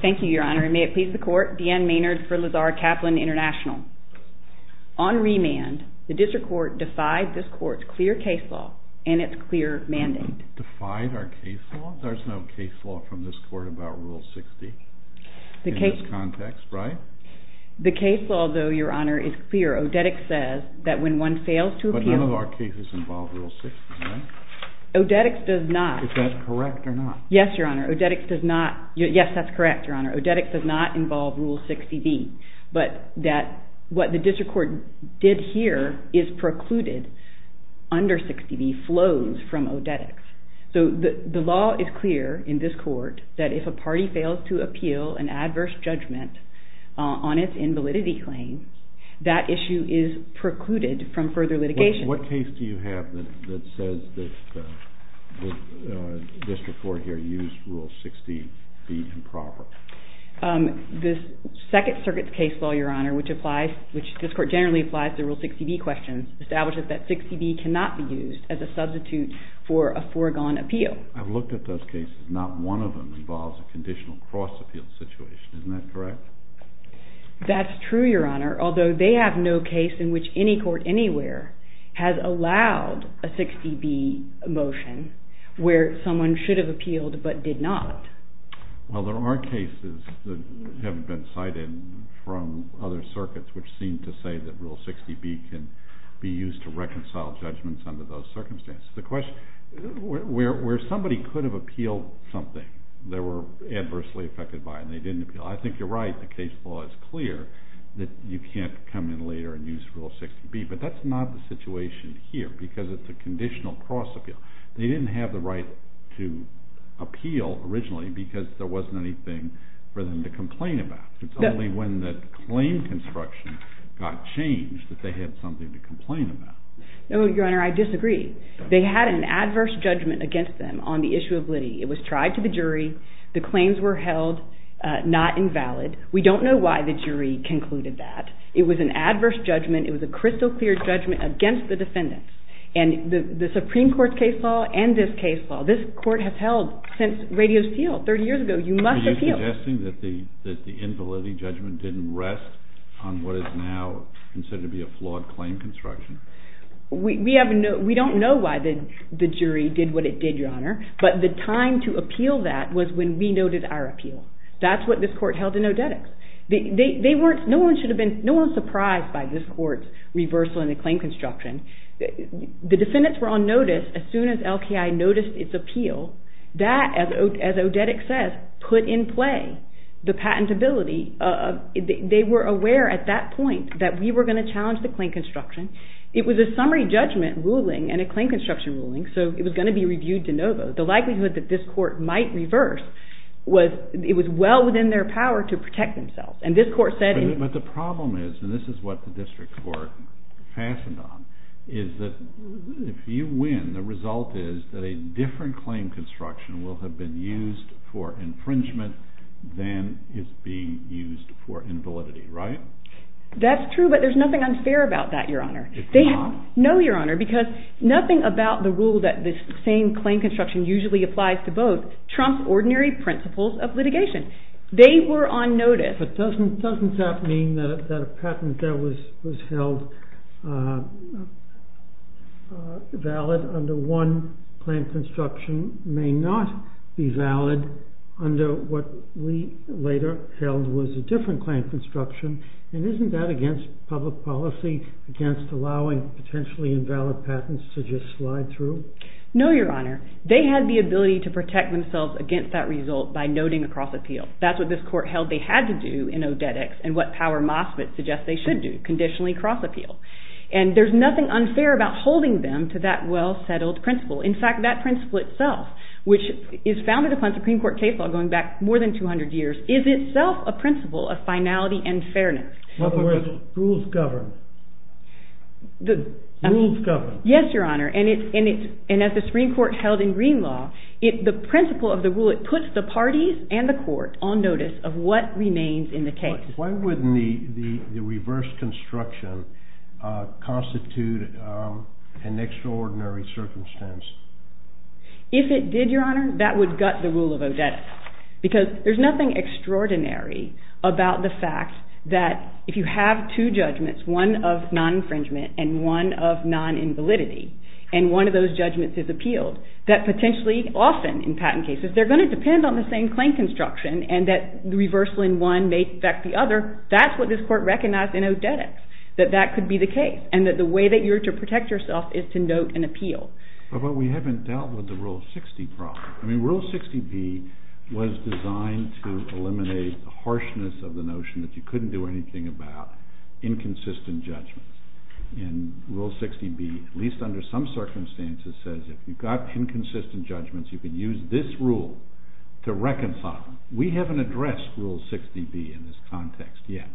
Thank you, Your Honor, and may it please the Court, Deanne Maynard for Lazare Kaplan International. On remand, the District Court defied this Court's clear case law and its clear mandate. Defied our case law? There's no case law from this Court about Rule 60 in this context, right? The case law, though, Your Honor, is clear. Odedic says that when one fails to appeal... But none of our cases involve Rule 60, right? Odedic does not. Is that correct or not? Yes, Your Honor. Odedic does not... Yes, that's correct, Your Honor. Odedic does not involve Rule 60B. But what the District Court did here is precluded under 60B flows from Odedic. So the law is clear in this Court that if a party fails to appeal an adverse judgment on its invalidity claim, that issue is precluded from further litigation. What case do you have that says that the District Court here used Rule 60B improperly? The Second Circuit's case law, Your Honor, which this Court generally applies to Rule 60B questions, establishes that 60B cannot be used as a substitute for a foregone appeal. I've looked at those cases. Not one of them involves a conditional cross-appeal situation. Isn't that correct? That's true, Your Honor, although they have no case in which any court anywhere has allowed a 60B motion where someone should have appealed but did not. Well, there are cases that haven't been cited from other circuits which seem to say that Rule 60B can be used to reconcile judgments under those circumstances. The question is where somebody could have appealed something they were adversely affected by and they didn't appeal. I think you're right. The case law is clear that you can't come in later and use Rule 60B. But that's not the situation here because it's a conditional cross-appeal. They didn't have the right to appeal originally because there wasn't anything for them to complain about. It's only when the claim construction got changed that they had something to complain about. No, Your Honor, I disagree. They had an adverse judgment against them on the issue of Liddy. It was tried to the jury. The claims were held not invalid. We don't know why the jury concluded that. It was an adverse judgment. It was a crystal clear judgment against the defendants. And the Supreme Court's case law and this case law, this court has held since Radio Steel 30 years ago, you must appeal. Are you suggesting that the invalidity judgment didn't rest on what is now considered to be a flawed claim construction? We don't know why the jury did what it did, Your Honor, but the time to appeal that was when we noted our appeal. That's what this court held in Odetics. No one was surprised by this court's reversal in the claim construction. The defendants were on notice as soon as LKI noticed its appeal. That, as Odetics says, put in play the patentability. They were aware at that point that we were going to challenge the claim construction. It was a summary judgment ruling and a claim construction ruling, so it was going to be reviewed de novo. The likelihood that this court might reverse was well within their power to protect themselves. But the problem is, and this is what the district court fastened on, is that if you win, the result is that a different claim construction will have been used for infringement than is being used for invalidity, right? That's true, but there's nothing unfair about that, Your Honor. It's not. No, Your Honor, because nothing about the rule that this same claim construction usually applies to both trumps ordinary principles of litigation. They were on notice. But doesn't that mean that a patent that was held valid under one claim construction may not be valid under what we later held was a different claim construction? And isn't that against public policy, against allowing potentially invalid patents to just slide through? No, Your Honor. They had the ability to protect themselves against that result by noting a cross-appeal. That's what this court held they had to do in Odetics and what Power MOSFET suggests they should do, conditionally cross-appeal. And there's nothing unfair about holding them to that well-settled principle. In fact, that principle itself, which is founded upon Supreme Court case law going back more than 200 years, is itself a principle of finality and fairness. In other words, rules govern. Rules govern. Yes, Your Honor. And as the Supreme Court held in Green law, the principle of the rule, it puts the parties and the court on notice of what remains in the case. Why wouldn't the reverse construction constitute an extraordinary circumstance? If it did, Your Honor, that would gut the rule of Odetics. Because there's nothing extraordinary about the fact that if you have two judgments, one of non-infringement and one of non-invalidity, and one of those judgments is appealed, that potentially, often in patent cases, they're going to depend on the same claim construction and that the reversal in one may affect the other. That's what this court recognized in Odetics, that that could be the case and that the way that you're to protect yourself is to note an appeal. But we haven't dealt with the Rule 60 problem. I mean, Rule 60B was designed to eliminate the harshness of the notion that you couldn't do anything about inconsistent judgments. And Rule 60B, at least under some circumstances, says if you've got inconsistent judgments, you can use this rule to reconcile them. We haven't addressed Rule 60B in this context yet.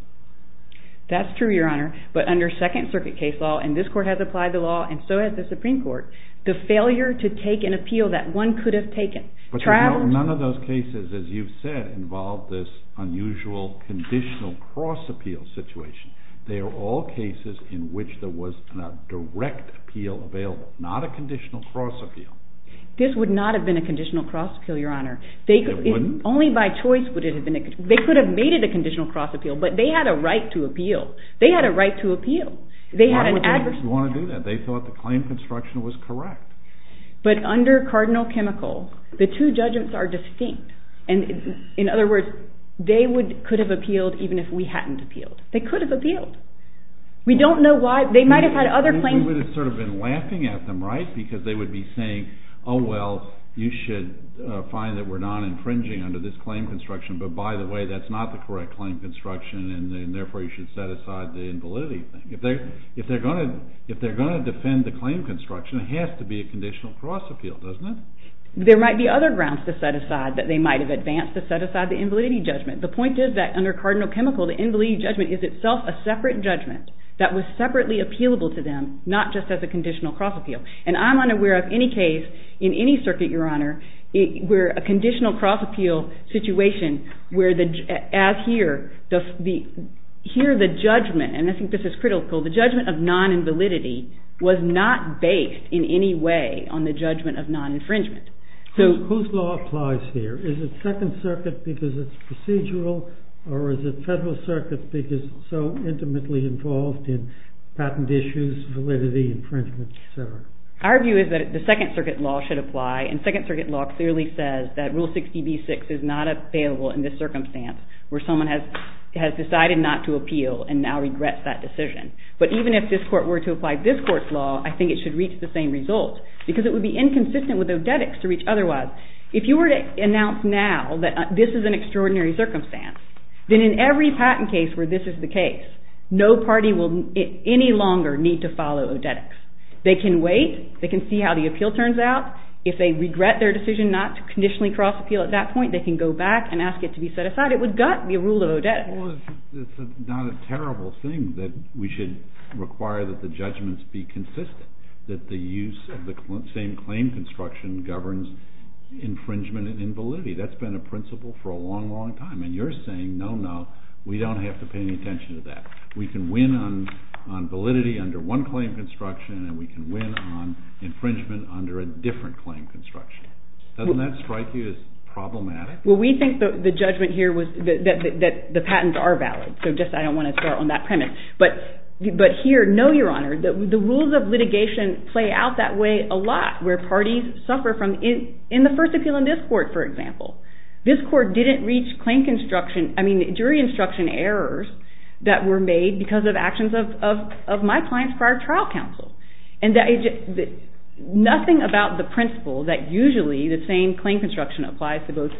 That's true, Your Honor, but under Second Circuit case law, and this court has applied the law and so has the Supreme Court, the failure to take an appeal that one could have taken. But none of those cases, as you've said, involve this unusual conditional cross-appeal situation. They are all cases in which there was a direct appeal available, not a conditional cross-appeal. This would not have been a conditional cross-appeal, Your Honor. It wouldn't? Only by choice would it have been a conditional cross-appeal. They could have made it a conditional cross-appeal, but they had a right to appeal. They had a right to appeal. Why would they want to do that? They thought the claim construction was correct. But under Cardinal Chemical, the two judgments are distinct. In other words, they could have appealed even if we hadn't appealed. They could have appealed. We don't know why. They might have had other claims. They would have sort of been laughing at them, right, because they would be saying, oh, well, you should find that we're not infringing under this claim construction, but by the way, that's not the correct claim construction, and therefore you should set aside the invalidity thing. If they're going to defend the claim construction, it has to be a conditional cross-appeal, doesn't it? There might be other grounds to set aside that they might have advanced to set aside the invalidity judgment. The point is that under Cardinal Chemical, the invalidity judgment is itself a separate judgment that was separately appealable to them, not just as a conditional cross-appeal. And I'm unaware of any case in any circuit, Your Honor, where a conditional cross-appeal situation where, as here, the judgment, and I think this is critical, the judgment of non-invalidity was not based in any way on the judgment of non-infringement. Whose law applies here? Is it Second Circuit because it's procedural, or is it Federal Circuit because it's so intimately involved in patent issues, validity, infringement, etc.? Our view is that the Second Circuit law should apply, and Second Circuit law clearly says that Rule 60b-6 is not available in this circumstance where someone has decided not to appeal and now regrets that decision. But even if this Court were to apply this Court's law, I think it should reach the same result because it would be inconsistent with Odetics to reach otherwise. If you were to announce now that this is an extraordinary circumstance, then in every patent case where this is the case, no party will any longer need to follow Odetics. They can wait. They can see how the appeal turns out. If they regret their decision not to conditionally cross-appeal at that point, they can go back and ask it to be set aside. It would gut the rule of Odetics. Well, it's not a terrible thing that we should require that the judgments be consistent, that the use of the same claim construction governs infringement and invalidity. That's been a principle for a long, long time, and you're saying, no, no, we don't have to pay any attention to that. We can win on validity under one claim construction, and we can win on infringement under a different claim construction. Doesn't that strike you as problematic? Well, we think the judgment here was that the patents are valid, so just I don't want to start on that premise. But here, no, Your Honor, the rules of litigation play out that way a lot, where parties suffer from it. In the first appeal in this court, for example, this court didn't reach jury instruction errors that were made because of actions of my client's prior trial counsel. Nothing about the principle that usually the same claim construction applies to both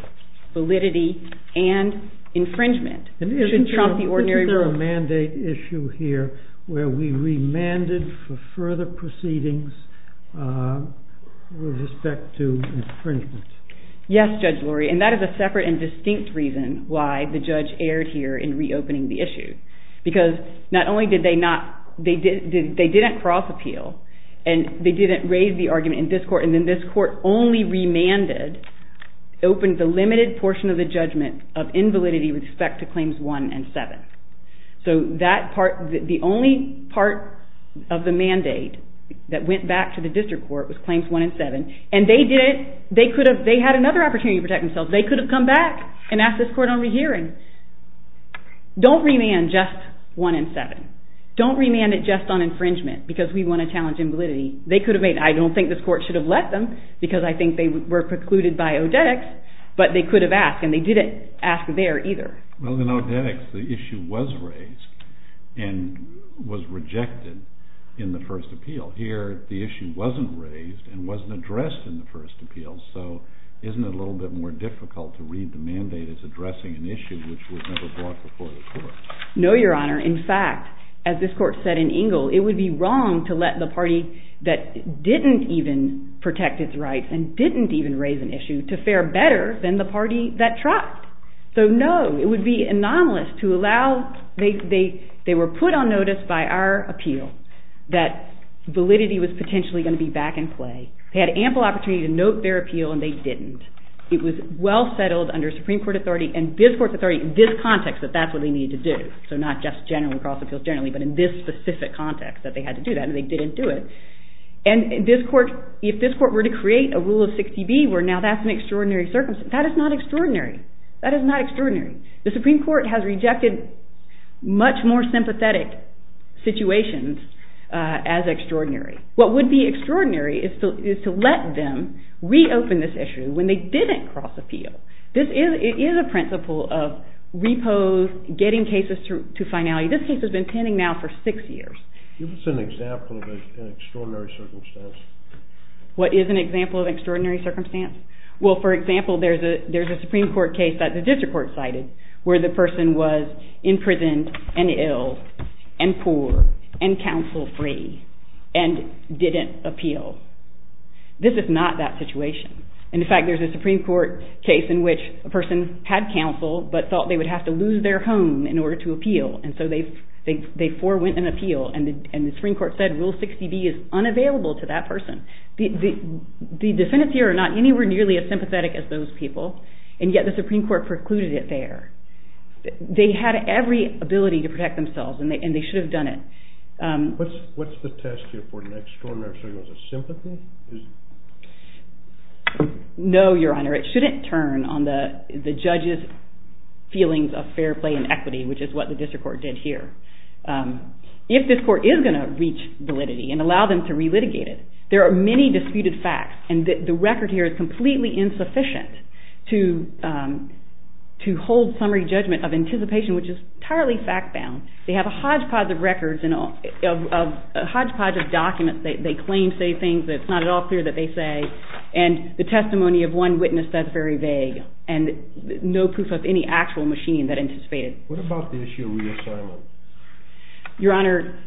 validity and infringement should trump the ordinary rule. There was a mandate issue here where we remanded for further proceedings with respect to infringement. Yes, Judge Lurie, and that is a separate and distinct reason why the judge erred here in reopening the issue, because not only did they not cross appeal, and they didn't raise the argument in this court, and then this court only remanded, opened the limited portion of the judgment of invalidity with respect to Claims 1 and 7. So the only part of the mandate that went back to the district court was Claims 1 and 7, and they had another opportunity to protect themselves. They could have come back and asked this court on rehearing. Don't remand just 1 and 7. Don't remand it just on infringement, because we want to challenge invalidity. I don't think this court should have let them, because I think they were precluded by ODEX, but they could have asked, and they didn't ask there either. Well, in ODEX, the issue was raised and was rejected in the first appeal. Here, the issue wasn't raised and wasn't addressed in the first appeal, so isn't it a little bit more difficult to read the mandate as addressing an issue which was never brought before the court? No, Your Honor. In fact, as this court said in Engle, it would be wrong to let the party that didn't even protect its rights and didn't even raise an issue to fare better than the party that tried. So no, it would be anomalous to allow... They were put on notice by our appeal that validity was potentially going to be back in play. They had ample opportunity to note their appeal, and they didn't. It was well settled under Supreme Court authority and this court's authority in this context that that's what they needed to do. So not just across appeals generally, but in this specific context that they had to do that, and they didn't do it. And if this court were to create a rule of 60B where now that's an extraordinary circumstance, that is not extraordinary. That is not extraordinary. The Supreme Court has rejected much more sympathetic situations as extraordinary. What would be extraordinary is to let them reopen this issue when they didn't cross appeal. This is a principle of repose, getting cases to finality. This case has been pending now for six years. Give us an example of an extraordinary circumstance. What is an example of an extraordinary circumstance? Well, for example, there's a Supreme Court case that the district court cited where the person was imprisoned and ill and poor and counsel-free and didn't appeal. This is not that situation. In fact, there's a Supreme Court case in which a person had counsel but thought they would have to lose their home in order to appeal, and so they forewent an appeal. And the Supreme Court said rule 60B is unavailable to that person. The defendants here are not anywhere nearly as sympathetic as those people, and yet the Supreme Court precluded it there. They had every ability to protect themselves, and they should have done it. What's the test here for an extraordinary circumstance? Is it sympathy? No, Your Honor. It shouldn't turn on the judge's feelings of fair play and equity, which is what the district court did here. If this court is going to reach validity and allow them to relitigate it, there are many disputed facts, and the record here is completely insufficient to hold summary judgment of anticipation, which is entirely fact-bound. They have a hodgepodge of records and a hodgepodge of documents. They claim to say things that it's not at all clear that they say, and the testimony of one witness says very vague and no proof of any actual machining that anticipated. What about the issue of reassignment? Your Honor,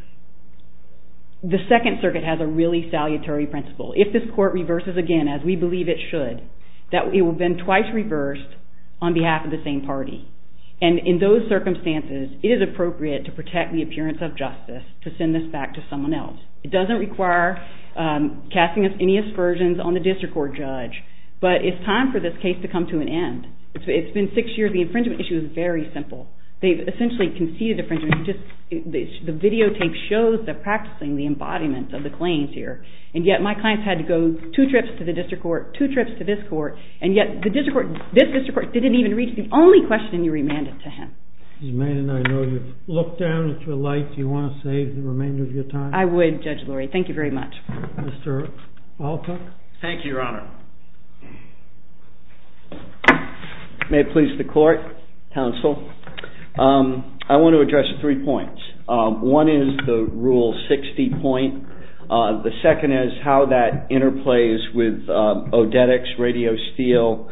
the Second Circuit has a really salutary principle. If this court reverses again, as we believe it should, it will have been twice reversed on behalf of the same party. And in those circumstances, it is appropriate to protect the appearance of justice to send this back to someone else. It doesn't require casting any aspersions on the district court judge, but it's time for this case to come to an end. It's been six years. The infringement issue is very simple. They've essentially conceded infringement. The videotape shows the practicing, the embodiment of the claims here, and yet my clients had to go two trips to the district court, two trips to this court, and yet this district court didn't even reach the only question you remanded to him. Ms. Manning, I know you've looked down at your light. Do you want to save the remainder of your time? I would, Judge Lurie. Thank you very much. Mr. Alcock? Thank you, Your Honor. May it please the court, counsel. I want to address three points. One is the Rule 60 point. The second is how that interplays with Odetics, Radio Steel,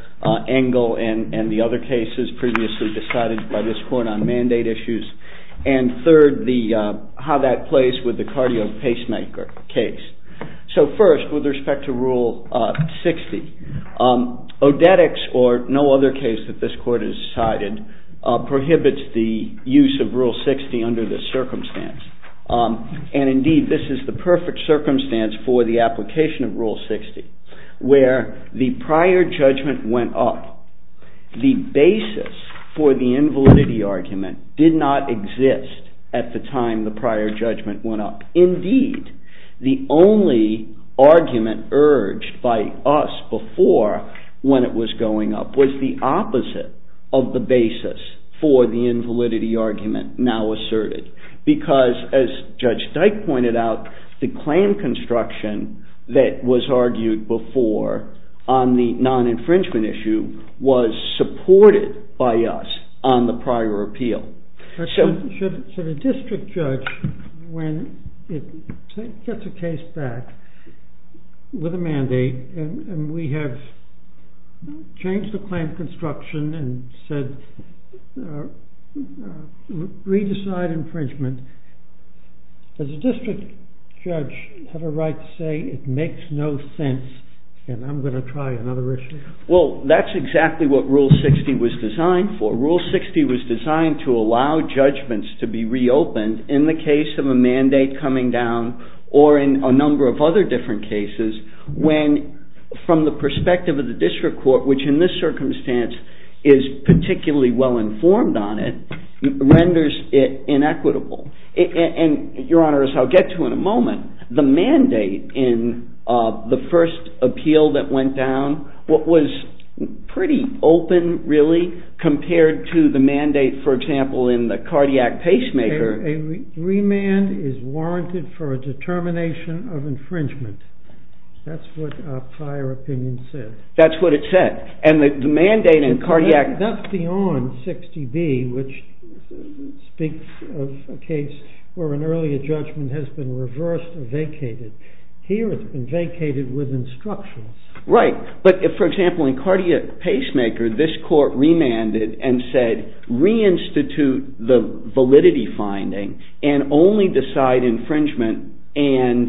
Engel, and the other cases previously decided by this court on mandate issues. And third, how that plays with the Cardio Pacemaker case. So first, with respect to Rule 60, Odetics or no other case that this court has decided prohibits the use of Rule 60 under this circumstance. And indeed, this is the perfect circumstance for the application of Rule 60 where the prior judgment went up. The basis for the invalidity argument did not exist at the time the prior judgment went up. Indeed, the only argument urged by us before when it was going up was the opposite of the basis for the invalidity argument now asserted. Because, as Judge Dyke pointed out, the claim construction that was argued before on the non-infringement issue was supported by us on the prior appeal. So the district judge, when it gets a case back with a mandate and we have changed the claim construction and said re-decide infringement, does the district judge have a right to say it makes no sense and I'm going to try another issue? Well, that's exactly what Rule 60 was designed for. Rule 60 was designed to allow judgments to be reopened in the case of a mandate coming down or in a number of other different cases when, from the perspective of the district court, which in this circumstance is particularly well-informed on it, renders it inequitable. And, Your Honor, as I'll get to in a moment, the mandate in the first appeal that went down was pretty open, really, compared to the mandate, for example, in the cardiac pacemaker. A remand is warranted for a determination of infringement. That's what prior opinion said. That's what it said. And the mandate in cardiac... That's beyond 60B, which speaks of a case where an earlier judgment has been reversed or vacated. Here it's been vacated with instruction. Right. But, for example, in cardiac pacemaker, this court remanded and said reinstitute the validity finding and only decide infringement and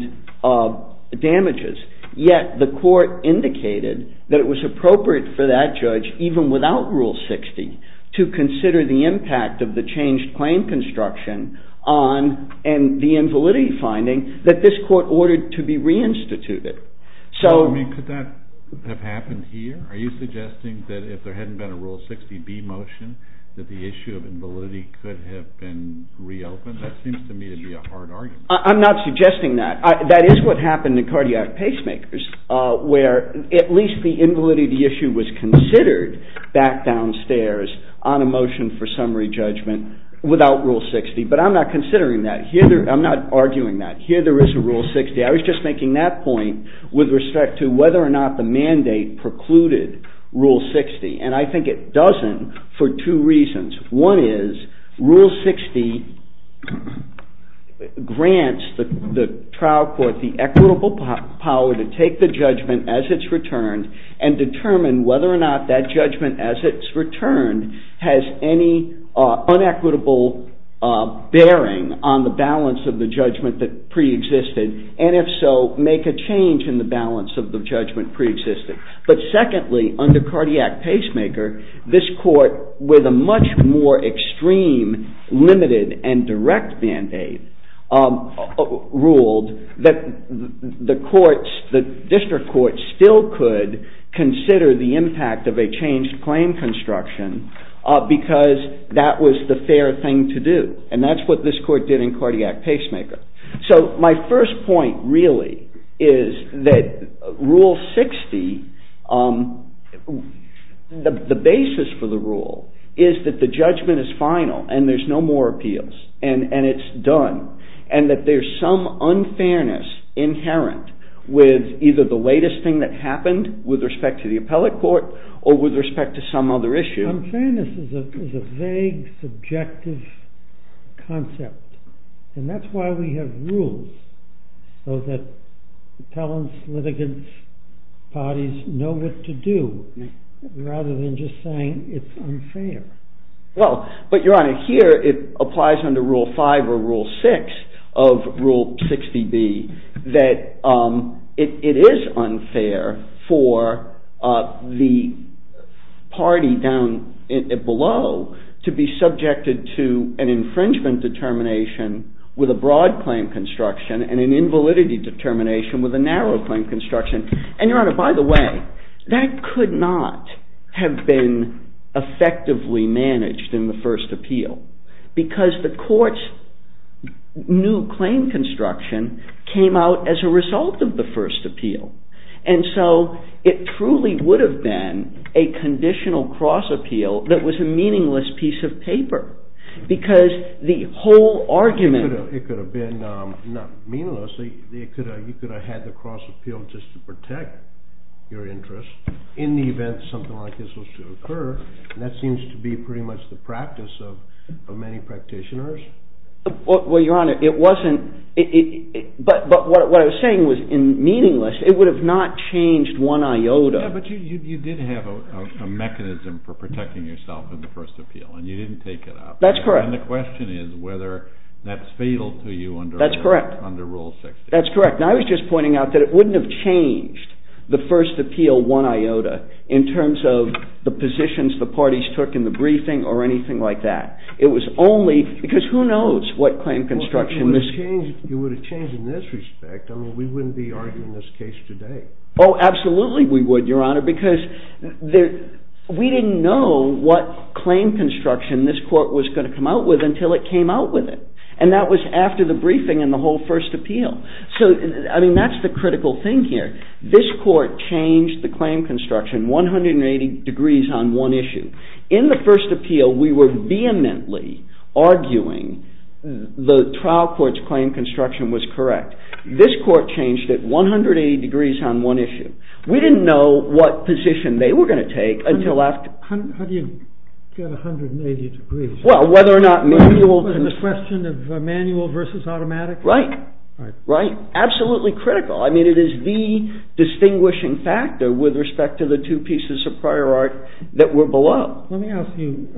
damages. Yet the court indicated that it was appropriate for that judge, even without Rule 60, to consider the impact of the changed claim construction and the invalidity finding that this court ordered to be reinstituted. Could that have happened here? Are you suggesting that if there hadn't been a Rule 60B motion that the issue of invalidity could have been reopened? That seems to me to be a hard argument. I'm not suggesting that. That is what happened in cardiac pacemakers, where at least the invalidity issue was considered back downstairs on a motion for summary judgment without Rule 60. But I'm not considering that. I'm not arguing that. Here there is a Rule 60. I was just making that point with respect to whether or not the mandate precluded Rule 60, and I think it doesn't for two reasons. One is Rule 60 grants the trial court the equitable power to take the judgment as it's returned and determine whether or not that judgment as it's returned has any unequitable bearing on the balance of the judgment that preexisted and if so, make a change in the balance of the judgment preexisted. But secondly, under cardiac pacemaker, this court with a much more extreme limited and direct mandate ruled that the district court still could consider the impact of a changed claim construction because that was the fair thing to do. And that's what this court did in cardiac pacemaker. So my first point really is that Rule 60, the basis for the rule is that the judgment is final and there's no more appeals and it's done and that there's some unfairness inherent with either the latest thing that happened with respect to the appellate court or with respect to some other issue. Unfairness is a vague subjective concept and that's why we have rules so that appellants, litigants, parties know what to do rather than just saying it's unfair. Well, but Your Honor, here it applies under Rule 5 or Rule 6 of Rule 60B that it is unfair for the party down below to be subjected to an infringement determination with a broad claim construction and an invalidity determination with a narrow claim construction. And Your Honor, by the way, that could not have been effectively managed in the first appeal because the court's new claim construction came out as a result of the first appeal. And so it truly would have been a conditional cross appeal that was a meaningless piece of paper because the whole argument... It could have been not meaningless. You could have had the cross appeal just to protect your interest in the event something like this was to occur and that seems to be pretty much the practice of many practitioners. Well, Your Honor, it wasn't... But what I was saying was in meaningless, it would have not changed one iota. Yeah, but you did have a mechanism for protecting yourself in the first appeal and you didn't take it up. That's correct. And the question is whether that's fatal to you under Rule 60. That's correct. That's correct. And I was just pointing out that it wouldn't have changed the first appeal one iota in terms of the positions the parties took in the briefing or anything like that. It was only... Because who knows what claim construction... It would have changed in this respect. I mean, we wouldn't be arguing this case today. Oh, absolutely we would, Your Honor, because we didn't know what claim construction this court was going to come out with until it came out with it, and that was after the briefing and the whole first appeal. So, I mean, that's the critical thing here. This court changed the claim construction 180 degrees on one issue. In the first appeal, we were vehemently arguing the trial court's claim construction was correct. This court changed it 180 degrees on one issue. We didn't know what position they were going to take until after... How do you get 180 degrees? Well, whether or not manual... Was it a question of manual versus automatic? Right. Right. Absolutely critical. I mean, it is the distinguishing factor with respect to the two pieces of prior art that were below. Let me ask you.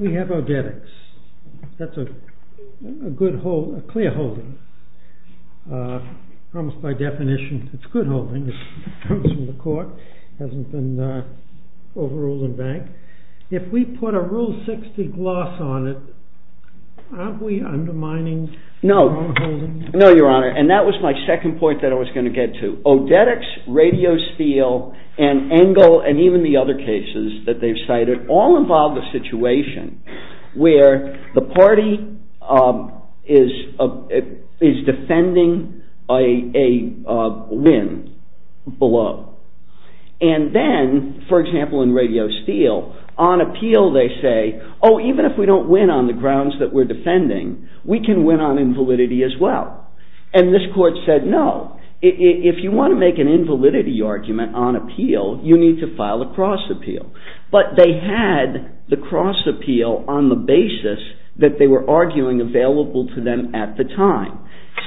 We have our debits. That's a good hold, a clear holding. Almost by definition, it's a good holding. It comes from the court. It hasn't been overruled in bank. If we put a Rule 60 gloss on it, aren't we undermining our own holding? No. No, Your Honor. And that was my second point that I was going to get to. Odetics, Radio Steel, and Engel, and even the other cases that they've cited, all involve a situation where the party is defending a win below. And then, for example, in Radio Steel, on appeal they say, Oh, even if we don't win on the grounds that we're defending, we can win on invalidity as well. And this court said, No. If you want to make an invalidity argument on appeal, you need to file a cross appeal. But they had the cross appeal on the basis that they were arguing available to them at the time.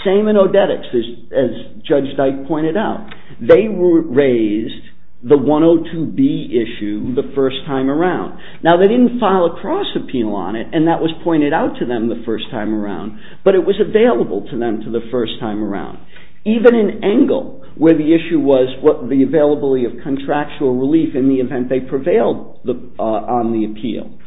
Same in Odetics, as Judge Dyke pointed out. They raised the 102B issue the first time around. Now, they didn't file a cross appeal on it, and that was pointed out to them the first time around. But it was available to them the first time around. Even in Engel, where the issue was the availability of contractual relief in the event they prevailed on the appeal,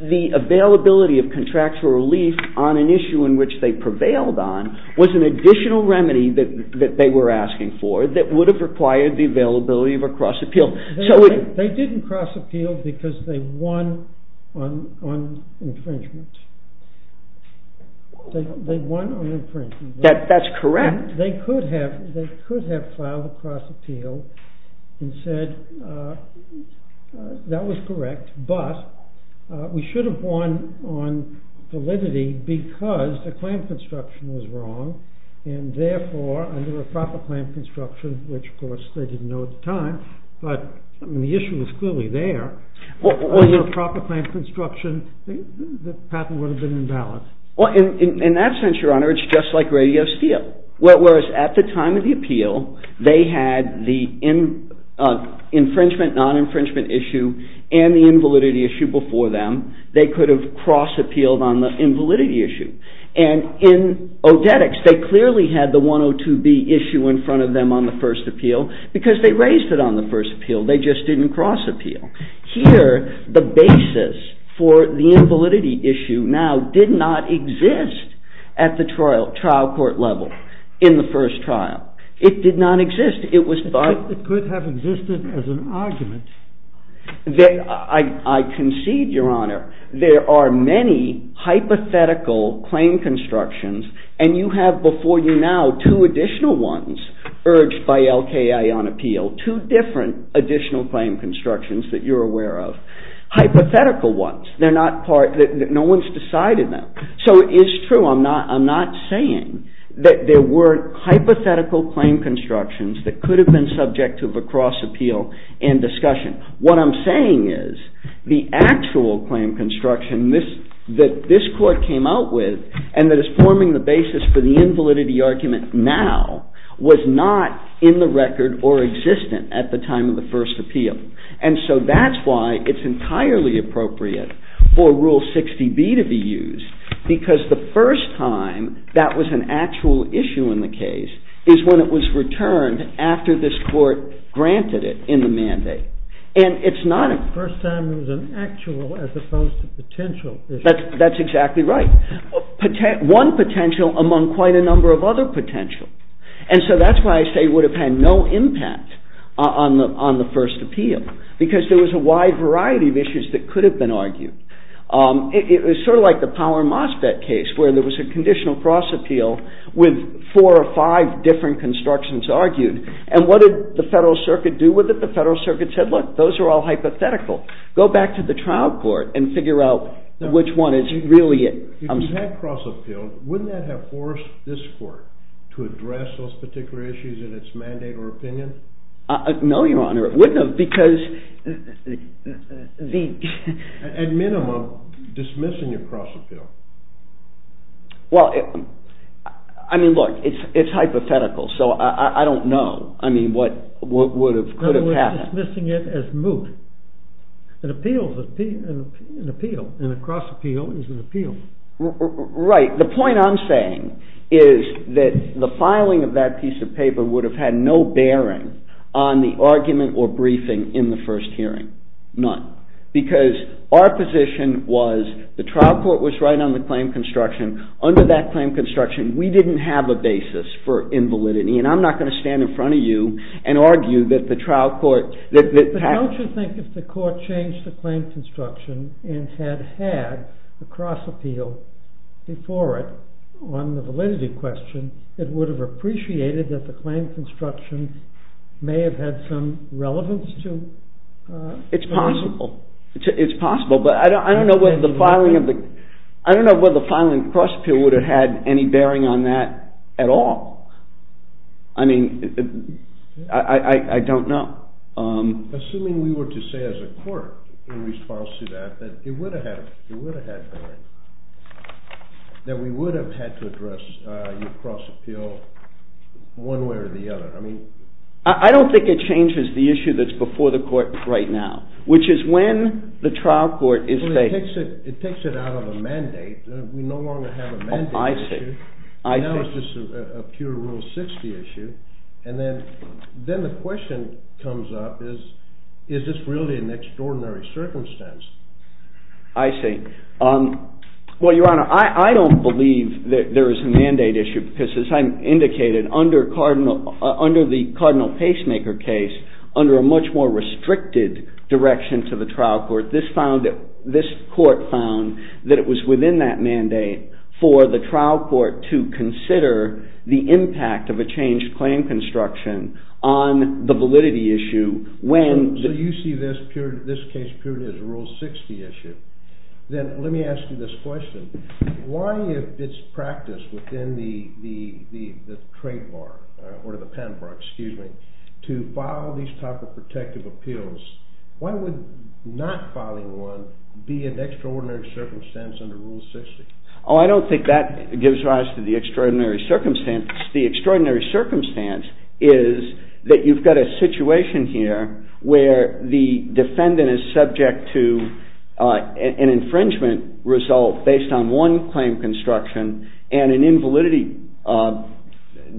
the availability of contractual relief on an issue in which they prevailed on was an additional remedy that they were asking for that would have required the availability of a cross appeal. They didn't cross appeal because they won on infringement. They won on infringement. That's correct. They could have filed a cross appeal and said that was correct, but we should have won on validity because the claim construction was wrong, and therefore under a proper claim construction, which of course they didn't know at the time, but the issue was clearly there, under a proper claim construction, the patent would have been imbalanced. In that sense, Your Honor, it's just like Radio Steel. Whereas at the time of the appeal, they had the infringement, non-infringement issue, and the invalidity issue before them, they could have cross appealed on the invalidity issue. And in Odetics, they clearly had the 102B issue in front of them on the first appeal because they raised it on the first appeal, they just didn't cross appeal. Here, the basis for the invalidity issue now did not exist at the trial court level in the first trial. It did not exist. It could have existed as an argument. I concede, Your Honor, there are many hypothetical claim constructions, and you have before you now two additional ones urged by LKA on appeal, two different additional claim constructions that you're aware of. Hypothetical ones, no one's decided them. So it's true, I'm not saying that there weren't hypothetical claim constructions that could have been subject to a cross appeal in discussion. What I'm saying is the actual claim construction that this court came out with and that is forming the basis for the invalidity argument now was not in the record or existent at the time of the first appeal. And so that's why it's entirely appropriate for Rule 60B to be used because the first time that was an actual issue in the case is when it was returned after this court granted it in the mandate. And it's not a... The first time it was an actual as opposed to potential issue. That's exactly right. One potential among quite a number of other potentials. And so that's why I say it would have had no impact on the first appeal because there was a wide variety of issues that could have been argued. It was sort of like the Power Mosfet case where there was a conditional cross appeal with four or five different constructions argued. And what did the Federal Circuit do with it? The Federal Circuit said, look, those are all hypothetical. Go back to the trial court and figure out which one is really it. If you had cross appeal, wouldn't that have forced this court to address those particular issues in its mandate or opinion? No, Your Honor, it wouldn't have because... At minimum, dismissing your cross appeal. Well, I mean, look, it's hypothetical, so I don't know. I mean, what could have happened? No, we're dismissing it as moot. An appeal is an appeal, and a cross appeal is an appeal. Right. The point I'm saying is that the filing of that piece of paper would have had no bearing on the argument or briefing in the first hearing. None. Because our position was the trial court was right on the claim construction. Under that claim construction, we didn't have a basis for invalidity, and I'm not going to stand in front of you and argue that the trial court... But don't you think if the court changed the claim construction and had had the cross appeal before it on the validity question, it would have appreciated that the claim construction may have had some relevance to... It's possible. It's possible, but I don't know whether the filing of the cross appeal would have had any bearing on that at all. I mean, I don't know. Assuming we were to say as a court in response to that that it would have had bearing, that we would have had to address your cross appeal one way or the other. I don't think it changes the issue that's before the court right now, which is when the trial court is... It takes it out of a mandate. We no longer have a mandate issue. Now it's just a pure Rule 60 issue. And then the question comes up is, is this really an extraordinary circumstance? I see. Well, Your Honor, I don't believe that there is a mandate issue because as I indicated, under the Cardinal Pacemaker case, under a much more restricted direction to the trial court, this court found that it was within that mandate for the trial court to consider the impact of a changed claim construction on the validity issue when... So you see this case purely as a Rule 60 issue. Then let me ask you this question. Why, if it's practiced within the trade bar or the pen bar, excuse me, to file these type of protective appeals, why would not filing one be an extraordinary circumstance under Rule 60? Oh, I don't think that gives rise to the extraordinary circumstance. The extraordinary circumstance is that you've got a situation here where the defendant is subject to an infringement result based on one claim construction and an invalidity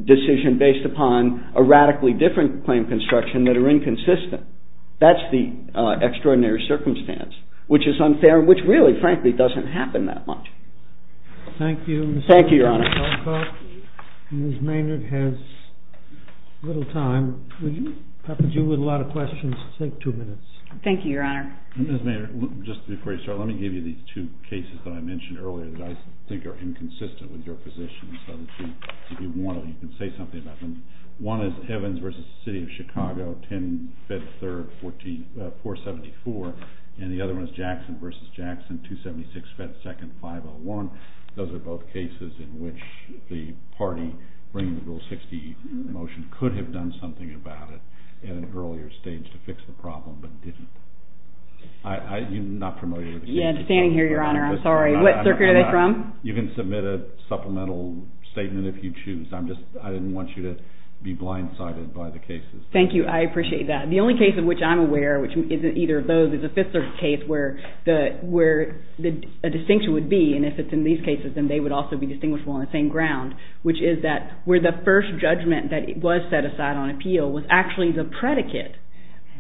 decision based upon a radically different claim construction that are inconsistent. That's the extraordinary circumstance, which is unfair and which really, frankly, doesn't happen that much. Thank you. Thank you, Your Honor. Ms. Maynard has little time. Would you, perhaps you with a lot of questions, take two minutes. Thank you, Your Honor. Ms. Maynard, just before you start, let me give you these two cases that I mentioned earlier that I think are inconsistent with your position so that if you want to, you can say something about them. One is Evans v. City of Chicago, 10-474, and the other one is Jackson v. Jackson, 276-501. Those are both cases in which the party bringing the Rule 60 motion could have done something about it at an earlier stage to fix the problem but didn't. You're not promoted. I'm standing here, Your Honor. I'm sorry. What circuit are they from? You can submit a supplemental statement if you choose. I didn't want you to be blindsided by the cases. Thank you. I appreciate that. The only case of which I'm aware, which isn't either of those, is a fifth-circuit case where a distinction would be, and if it's in these cases, then they would also be distinguishable on the same ground, which is that where the first judgment that was set aside on appeal was actually the predicate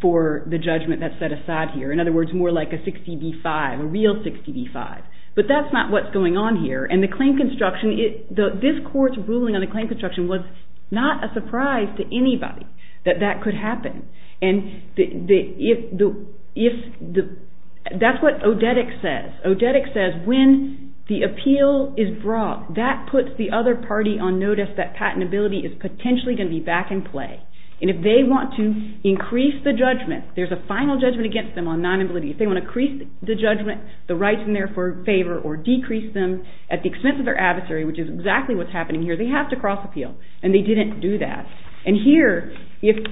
for the judgment that's set aside here. In other words, more like a 60-B-5, a real 60-B-5. But that's not what's going on here. This Court's ruling on the claim construction was not a surprise to anybody that that could happen. That's what Odedic says. Odedic says when the appeal is brought, that puts the other party on notice that patentability is potentially going to be back in play. And if they want to increase the judgment, there's a final judgment against them on non-ability. If they want to increase the judgment, the rights in their favor, or decrease them at the expense of their adversary, which is exactly what's happening here, they have to cross-appeal. And they didn't do that. And here, if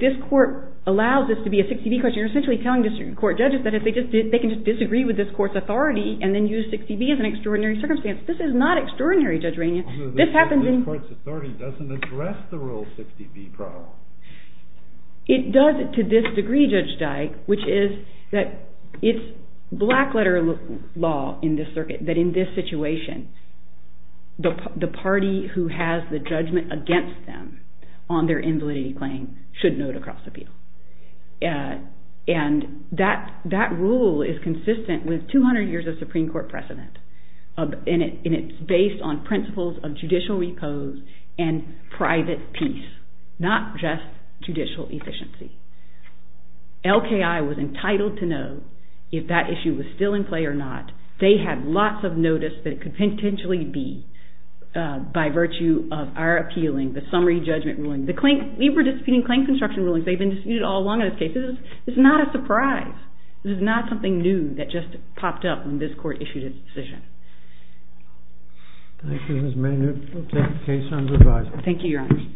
this Court allows this to be a 60-B question, you're essentially telling the Court judges that they can just disagree with this Court's authority and then use 60-B as an extraordinary circumstance. This is not extraordinary, Judge Rainey. This Court's authority doesn't address the rule 60-B problem. It does to this degree, Judge Dyke, which is that it's black-letter law in this circuit that in this situation, the party who has the judgment against them on their invalidity claim should note a cross-appeal. And that rule is consistent with 200 years of Supreme Court precedent. And it's based on principles of judicial repose and private peace, not just judicial efficiency. LKI was entitled to know if that issue was still in play or not. They had lots of notice that it could potentially be, by virtue of our appealing the summary judgment ruling. We were disputing claim construction rulings. They've been disputed all along in this case. This is not a surprise. This is not something new that just popped up when this Court issued its decision. Thank you, Ms. Maynard. We'll take the case under review. Thank you, Your Honor.